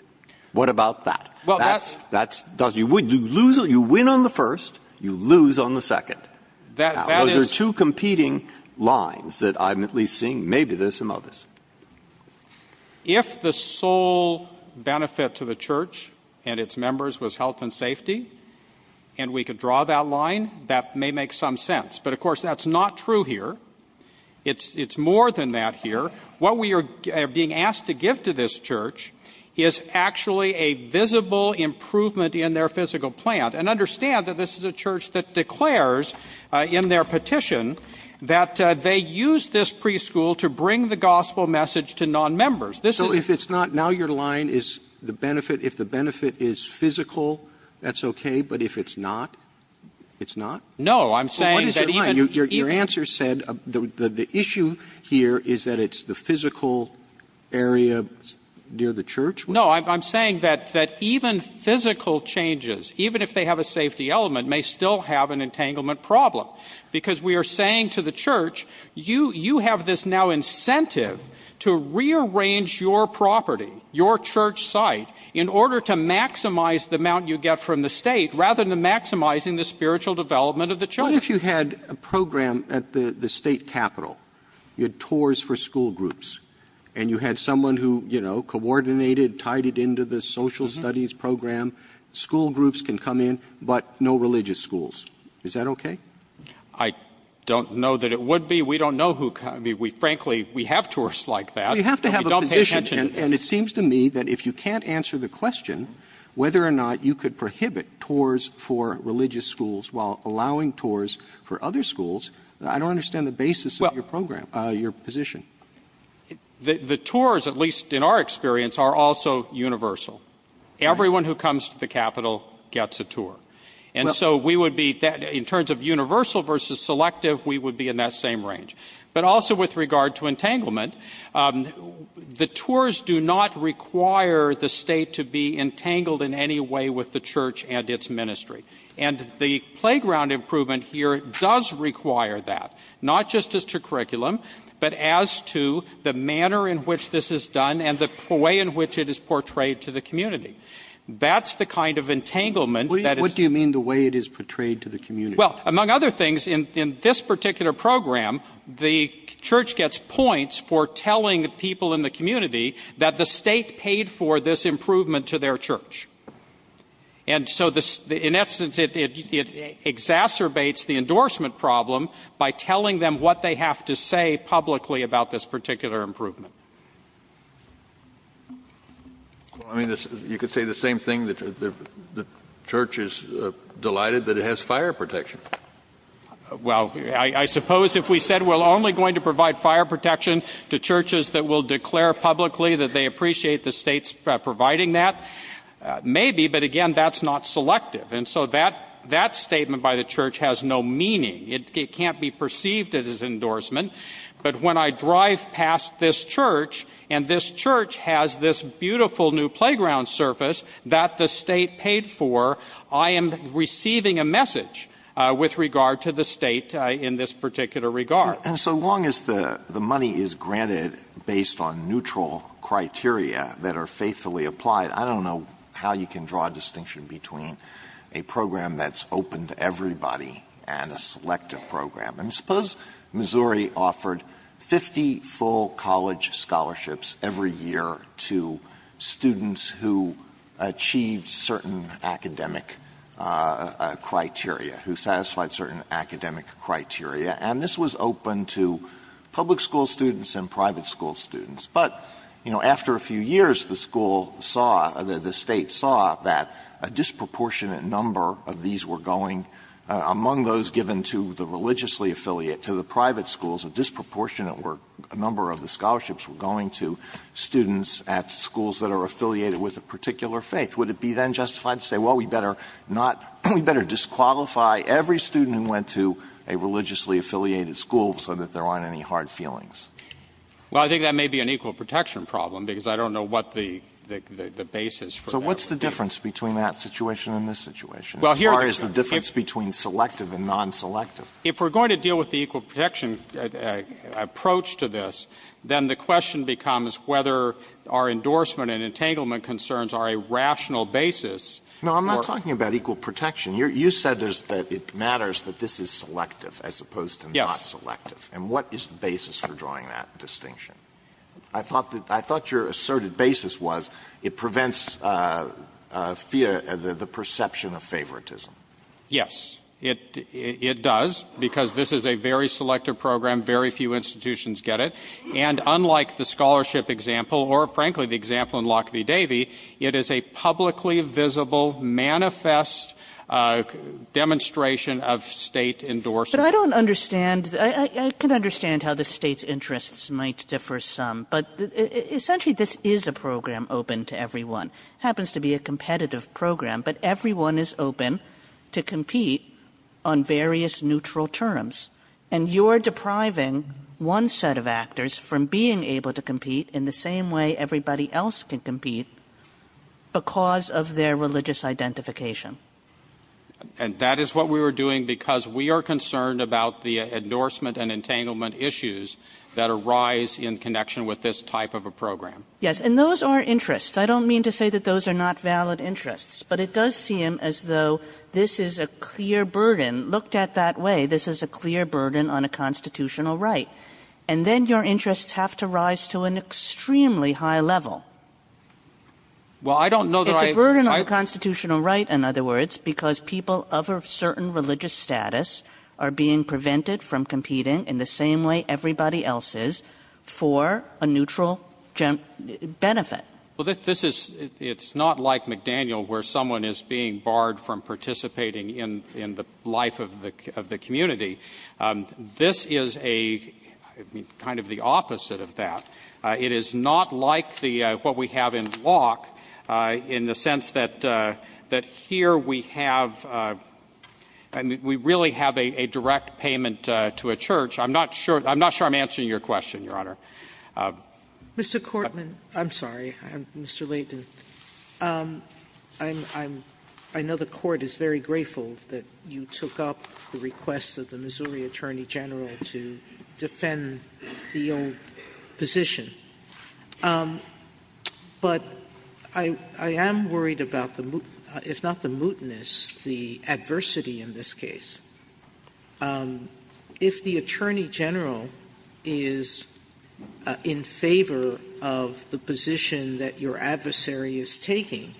What about that? Well, that's. That's. You win on the first. You lose on the second. Those are two competing lines that I'm at least seeing. Maybe there's some others. But if the sole benefit to the church and its members was health and safety, and we could draw that line, that may make some sense. But, of course, that's not true here. It's more than that here. What we are being asked to give to this church is actually a visible improvement in their physical plant, and understand that this is a church that declares in their petition that they use this preschool to bring the gospel message to nonmembers. This is. So if it's not, now your line is the benefit. If the benefit is physical, that's okay. But if it's not, it's not? No. I'm saying that even. Your answer said the issue here is that it's the physical area near the church. No, I'm saying that even physical changes, even if they have a safety element, may still have an entanglement problem. Because we are saying to the church, you have this now incentive to rearrange your property, your church site, in order to maximize the amount you get from the state, rather than maximizing the spiritual development of the children. What if you had a program at the state capitol? You had tours for school groups. And you had someone who coordinated, tied it into the social studies program. School groups can come in, but no religious schools. Is that okay? I don't know that it would be. We don't know. Frankly, we have tours like that. You have to have a position. And it seems to me that if you can't answer the question, whether or not you could prohibit tours for religious schools while allowing tours for other schools, I don't understand the basis of your program, your position. The tours, at least in our experience, are also universal. Everyone who comes to the capitol gets a tour. And so we would be, in terms of universal versus selective, we would be in that same range. But also with regard to entanglement, the tours do not require the state to be entangled in any way with the church and its ministry. And the playground improvement here does require that, not just as to curriculum, but as to the manner in which this is done and the way in which it is portrayed to the community. That's the kind of entanglement that is— What do you mean the way it is portrayed to the community? Well, among other things, in this particular program, the church gets points for telling people in the community that the state paid for this improvement to their church. And so, in essence, it exacerbates the endorsement problem by telling them what they have to say publicly about this particular improvement. Well, I mean, you could say the same thing, that the church is delighted that it has fire protection. Well, I suppose if we said we're only going to provide fire protection to churches that will declare publicly that they appreciate the state's providing that, maybe, but again, that's not selective. And so that statement by the church has no meaning. It can't be perceived as endorsement. But when I drive past this church, and this church has this beautiful new playground surface that the state paid for, I am receiving a message with regard to the state in this particular regard. And so long as the money is granted based on neutral criteria that are faithfully applied, I don't know how you can draw a distinction between a program that's open to everybody and a selective program. And suppose Missouri offered 50 full college scholarships every year to students who achieved certain academic criteria, who satisfied certain academic criteria, and this was open to public school students and private school students. But, you know, after a few years, the school saw, the State saw that a disproportionate number of these were going, among those given to the religiously affiliate, to the private schools, a disproportionate number of the scholarships were going to students at schools that are affiliated with a particular faith. Would it be then justified to say, well, we better not, we better disqualify every student who went to a religiously affiliated school so that they're on any hard feelings? Well, I think that may be an equal protection problem, because I don't know what the basis for that would be. So what's the difference between that situation and this situation? As far as the difference between selective and non-selective? If we're going to deal with the equal protection approach to this, then the question becomes whether our endorsement and entanglement concerns are a rational basis. No, I'm not talking about equal protection. You said that it matters that this is selective as opposed to not selective. And what is the basis for drawing that distinction? I thought that your asserted basis was it prevents the perception of favoritism. Yes. It does, because this is a very selective program. Very few institutions get it. And unlike the scholarship example, or frankly the example in Lock v. Davey, it is a publicly visible, manifest demonstration of State endorsement. But I don't understand, I can understand how the State's interests might differ some, but essentially this is a program open to everyone. Happens to be a competitive program, but everyone is open to compete on various neutral terms. And you're depriving one set of actors from being able to compete in the same way everybody else can compete because of their religious identification. And that is what we were doing because we are concerned about the endorsement and entanglement issues that arise in connection with this type of a program. Yes. And those are interests. I don't mean to say that those are not valid interests. But it does seem as though this is a clear burden. Looked at that way, this is a clear burden on a constitutional right. And then your interests have to rise to an extremely high level. Well, I don't know that I ---- Burden on the constitutional right, in other words, because people of a certain religious status are being prevented from competing in the same way everybody else is for a neutral benefit. Well, this is, it's not like McDaniel where someone is being barred from participating in the life of the community. This is a, kind of the opposite of that. It is not like what we have in Locke in the sense that here we have, we really have a direct payment to a church. I'm not sure, I'm not sure I'm answering your question, Your Honor. Mr. Courtman, I'm sorry, Mr. Leighton. I know the court is very grateful that you took up the request of the Missouri Attorney General to defend the old position. But I am worried about the, if not the mootness, the adversity in this case. If the Attorney General is in favor of the position that your adversary is taking,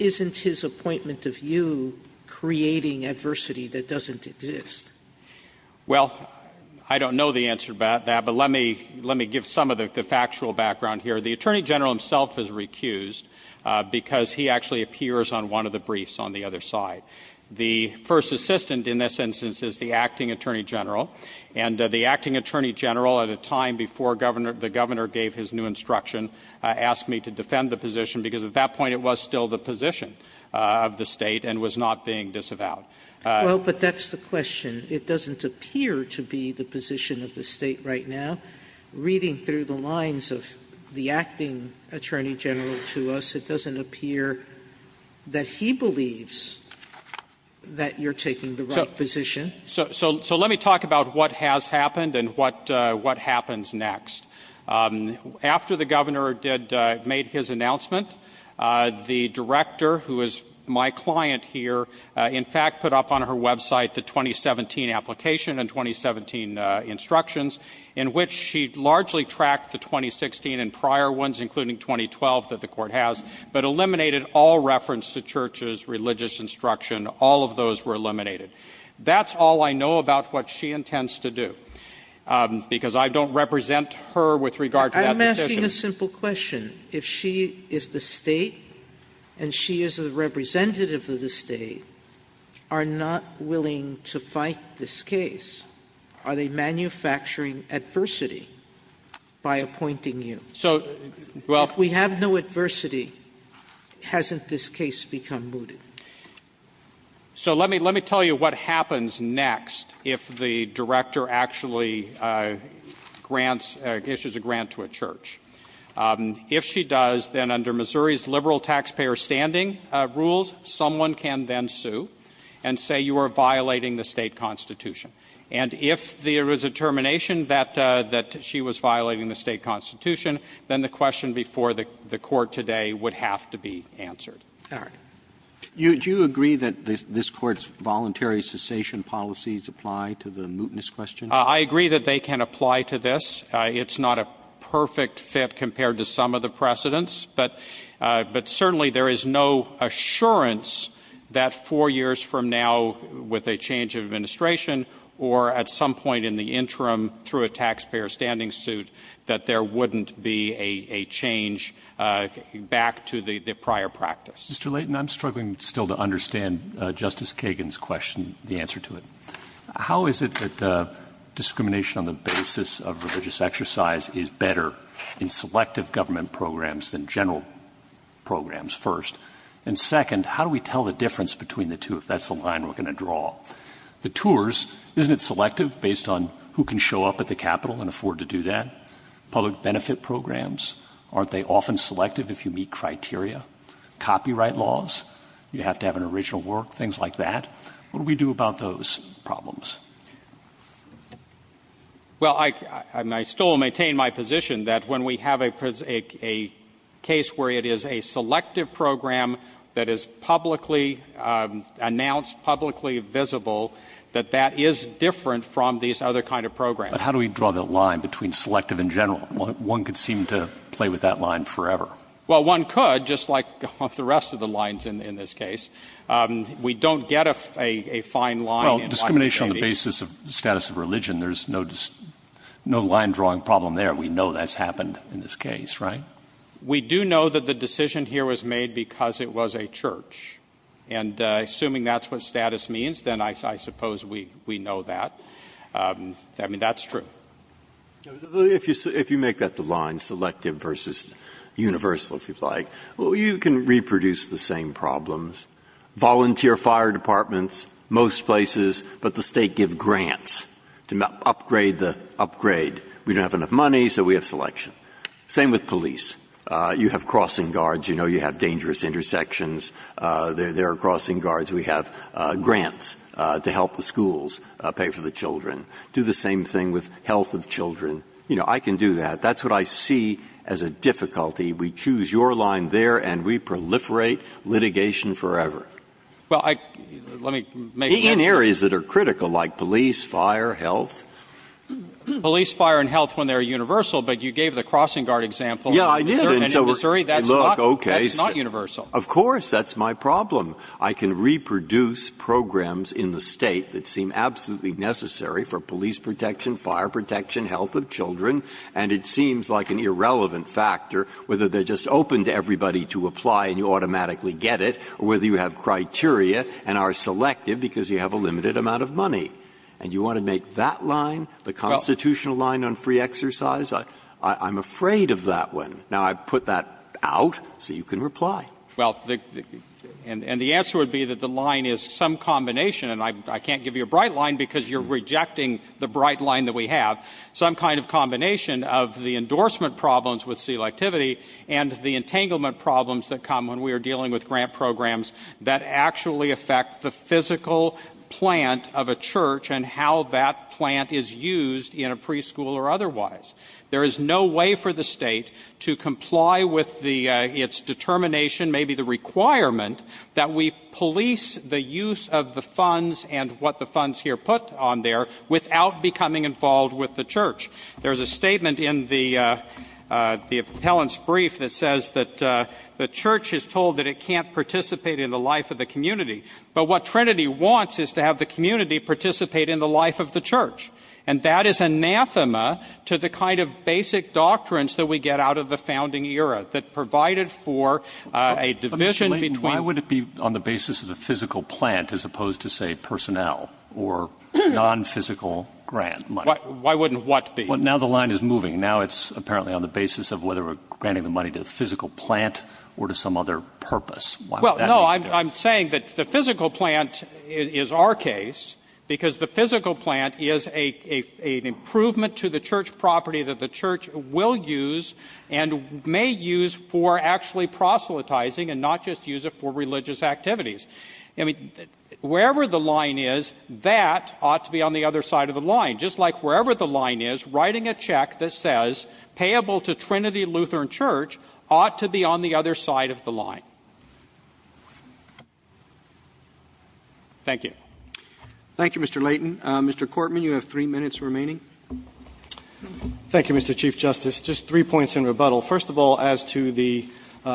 isn't his appointment of you creating adversity that doesn't exist? Well, I don't know the answer to that, but let me give some of the factual background here. The Attorney General himself is recused because he actually appears on one of the briefs on the other side. The first assistant in this instance is the acting Attorney General, and the acting Attorney General at a time before the Governor gave his new instruction asked me to defend the position because at that point it was still the position of the state and was not being disavowed. Well, but that's the question. It doesn't appear to be the position of the state right now. Reading through the lines of the acting Attorney General to us, it doesn't appear that he believes that you're taking the right position. So let me talk about what has happened and what happens next. After the Governor made his announcement, the Director, who is my client here, in fact put up on her website the 2017 application and 2017 instructions in which she largely tracked the 2016 and prior ones, including 2012 that the court has, but eliminated all reference to church's religious instruction. All of those were eliminated. That's all I know about what she intends to do because I don't represent her with regard to that. I'm asking a simple question. If she is the state and she is a representative of the state are not willing to fight this case, are they manufacturing adversity by appointing you? So well, we have no adversity. Hasn't this case become mooted? So let me let me tell you what happens next if the Director actually grants issues a grant to a church. If she does, then under Missouri's liberal taxpayer standing rules, someone can then sue and say you are violating the state constitution. And if there is a termination that that she was violating the state constitution, then the question before the court today would have to be answered. Roberts. You do agree that this court's voluntary cessation policies apply to the mootness question? I agree that they can apply to this. It's not a perfect fit compared to some of the precedents. But but certainly there is no assurance that four years from now with a change of administration or at some point in the interim through a taxpayer standing suit that there wouldn't be a change back to the prior practice. Mr. Layton, I'm struggling still to understand Justice Kagan's question. The answer to it. How is it that discrimination on the basis of religious exercise is better in selective government programs than general programs first? And second, how do we tell the difference between the two? If that's the line we're going to draw the tours, isn't it selective based on who can show up at the Capitol and afford to do that? Public benefit programs. Aren't they often selective if you meet criteria, copyright laws? You have to have an original work, things like that. What do we do about those problems? Well, I still maintain my position that when we have a a case where it is a selective program that is publicly announced, publicly visible, that that is different from these other kind of programs. How do we draw the line between selective and general? One could seem to play with that line forever. Well, one could, just like the rest of the lines in this case. We don't get a fine line. Well, discrimination on the basis of the status of religion, there's no line drawing problem there. We know that's happened in this case, right? We do know that the decision here was made because it was a church. And assuming that's what status means, then I suppose we know that. I mean, that's true. If you make that the line, selective versus universal, if you'd like, well, you can volunteer fire departments most places, but the state give grants to upgrade the upgrade. We don't have enough money, so we have selection. Same with police. You have crossing guards. You know you have dangerous intersections. There are crossing guards. We have grants to help the schools pay for the children. Do the same thing with health of children. You know, I can do that. That's what I see as a difficulty. We choose your line there, and we proliferate litigation forever. Well, let me make that clear. In areas that are critical, like police, fire, health. Police, fire, and health, when they're universal, but you gave the crossing guard example. Yeah, I did. And in Missouri, that's not universal. Of course, that's my problem. I can reproduce programs in the state that seem absolutely necessary for police protection, fire protection, health of children. And it seems like an irrelevant factor, whether they're just open to everybody to apply and you automatically get it, or whether you have criteria and are selective because you have a limited amount of money. And you want to make that line the constitutional line on free exercise? I'm afraid of that one. Now, I put that out so you can reply. Well, and the answer would be that the line is some combination. And I can't give you a bright line because you're rejecting the bright line that we have. Some kind of combination of the endorsement problems with selectivity and the entanglement problems that come when we are dealing with grant programs that actually affect the physical plant of a church and how that plant is used in a preschool or otherwise. There is no way for the state to comply with its determination, maybe the requirement, that we police the use of the funds and what the funds here put on there without becoming involved with the church. There's a statement in the appellant's brief that says that the church is told that it can't participate in the life of the community. But what Trinity wants is to have the community participate in the life of the church. And that is anathema to the kind of basic doctrines that we get out of the founding era that provided for a division between- Why would it be on the basis of the physical plant as opposed to, say, personnel or non-physical grant money? Why wouldn't what be? Well, now the line is moving. Now it's apparently on the basis of whether we're granting the money to the physical plant or to some other purpose. Well, no, I'm saying that the physical plant is our case because the physical plant is an improvement to the church property that the church will use and may use for actually proselytizing and not just use it for religious activities. I mean, wherever the line is, that ought to be on the other side of the line, just like wherever the line is, writing a check that says payable to Trinity Lutheran Church ought to be on the other side of the line. Thank you. Thank you, Mr. Leighton. Mr. Cortman, you have three minutes remaining. Thank you, Mr. Chief Justice. Just three points in rebuttal. First of all, as to the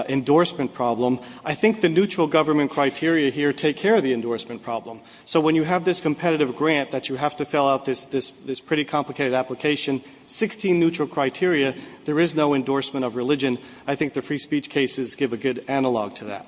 endorsement problem, I think the neutral government criteria here take care of the endorsement problem. So when you have this competitive grant that you have to fill out this pretty complicated application, 16 neutral criteria, there is no endorsement of religion. I think the free speech cases give a good analog to that.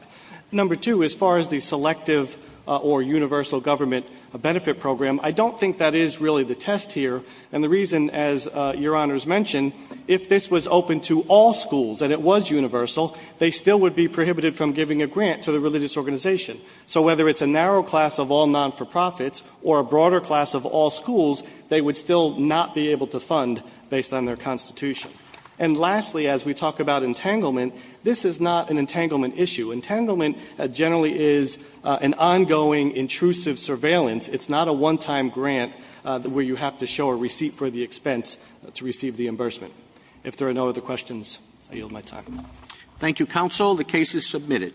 Number two, as far as the selective or universal government benefit program, I don't think that is really the test here. And the reason, as Your Honors mentioned, if this was open to all schools and it was universal, they still would be prohibited from giving a grant to the religious organization. So whether it's a narrow class of all non-for-profits or a broader class of all schools, they would still not be able to fund based on their constitution. And lastly, as we talk about entanglement, this is not an entanglement issue. Entanglement generally is an ongoing intrusive surveillance. It's not a one-time grant where you have to show a receipt for the expense to receive the embursement. If there are no other questions, I yield my time. Roberts. Thank you, counsel. The case is submitted.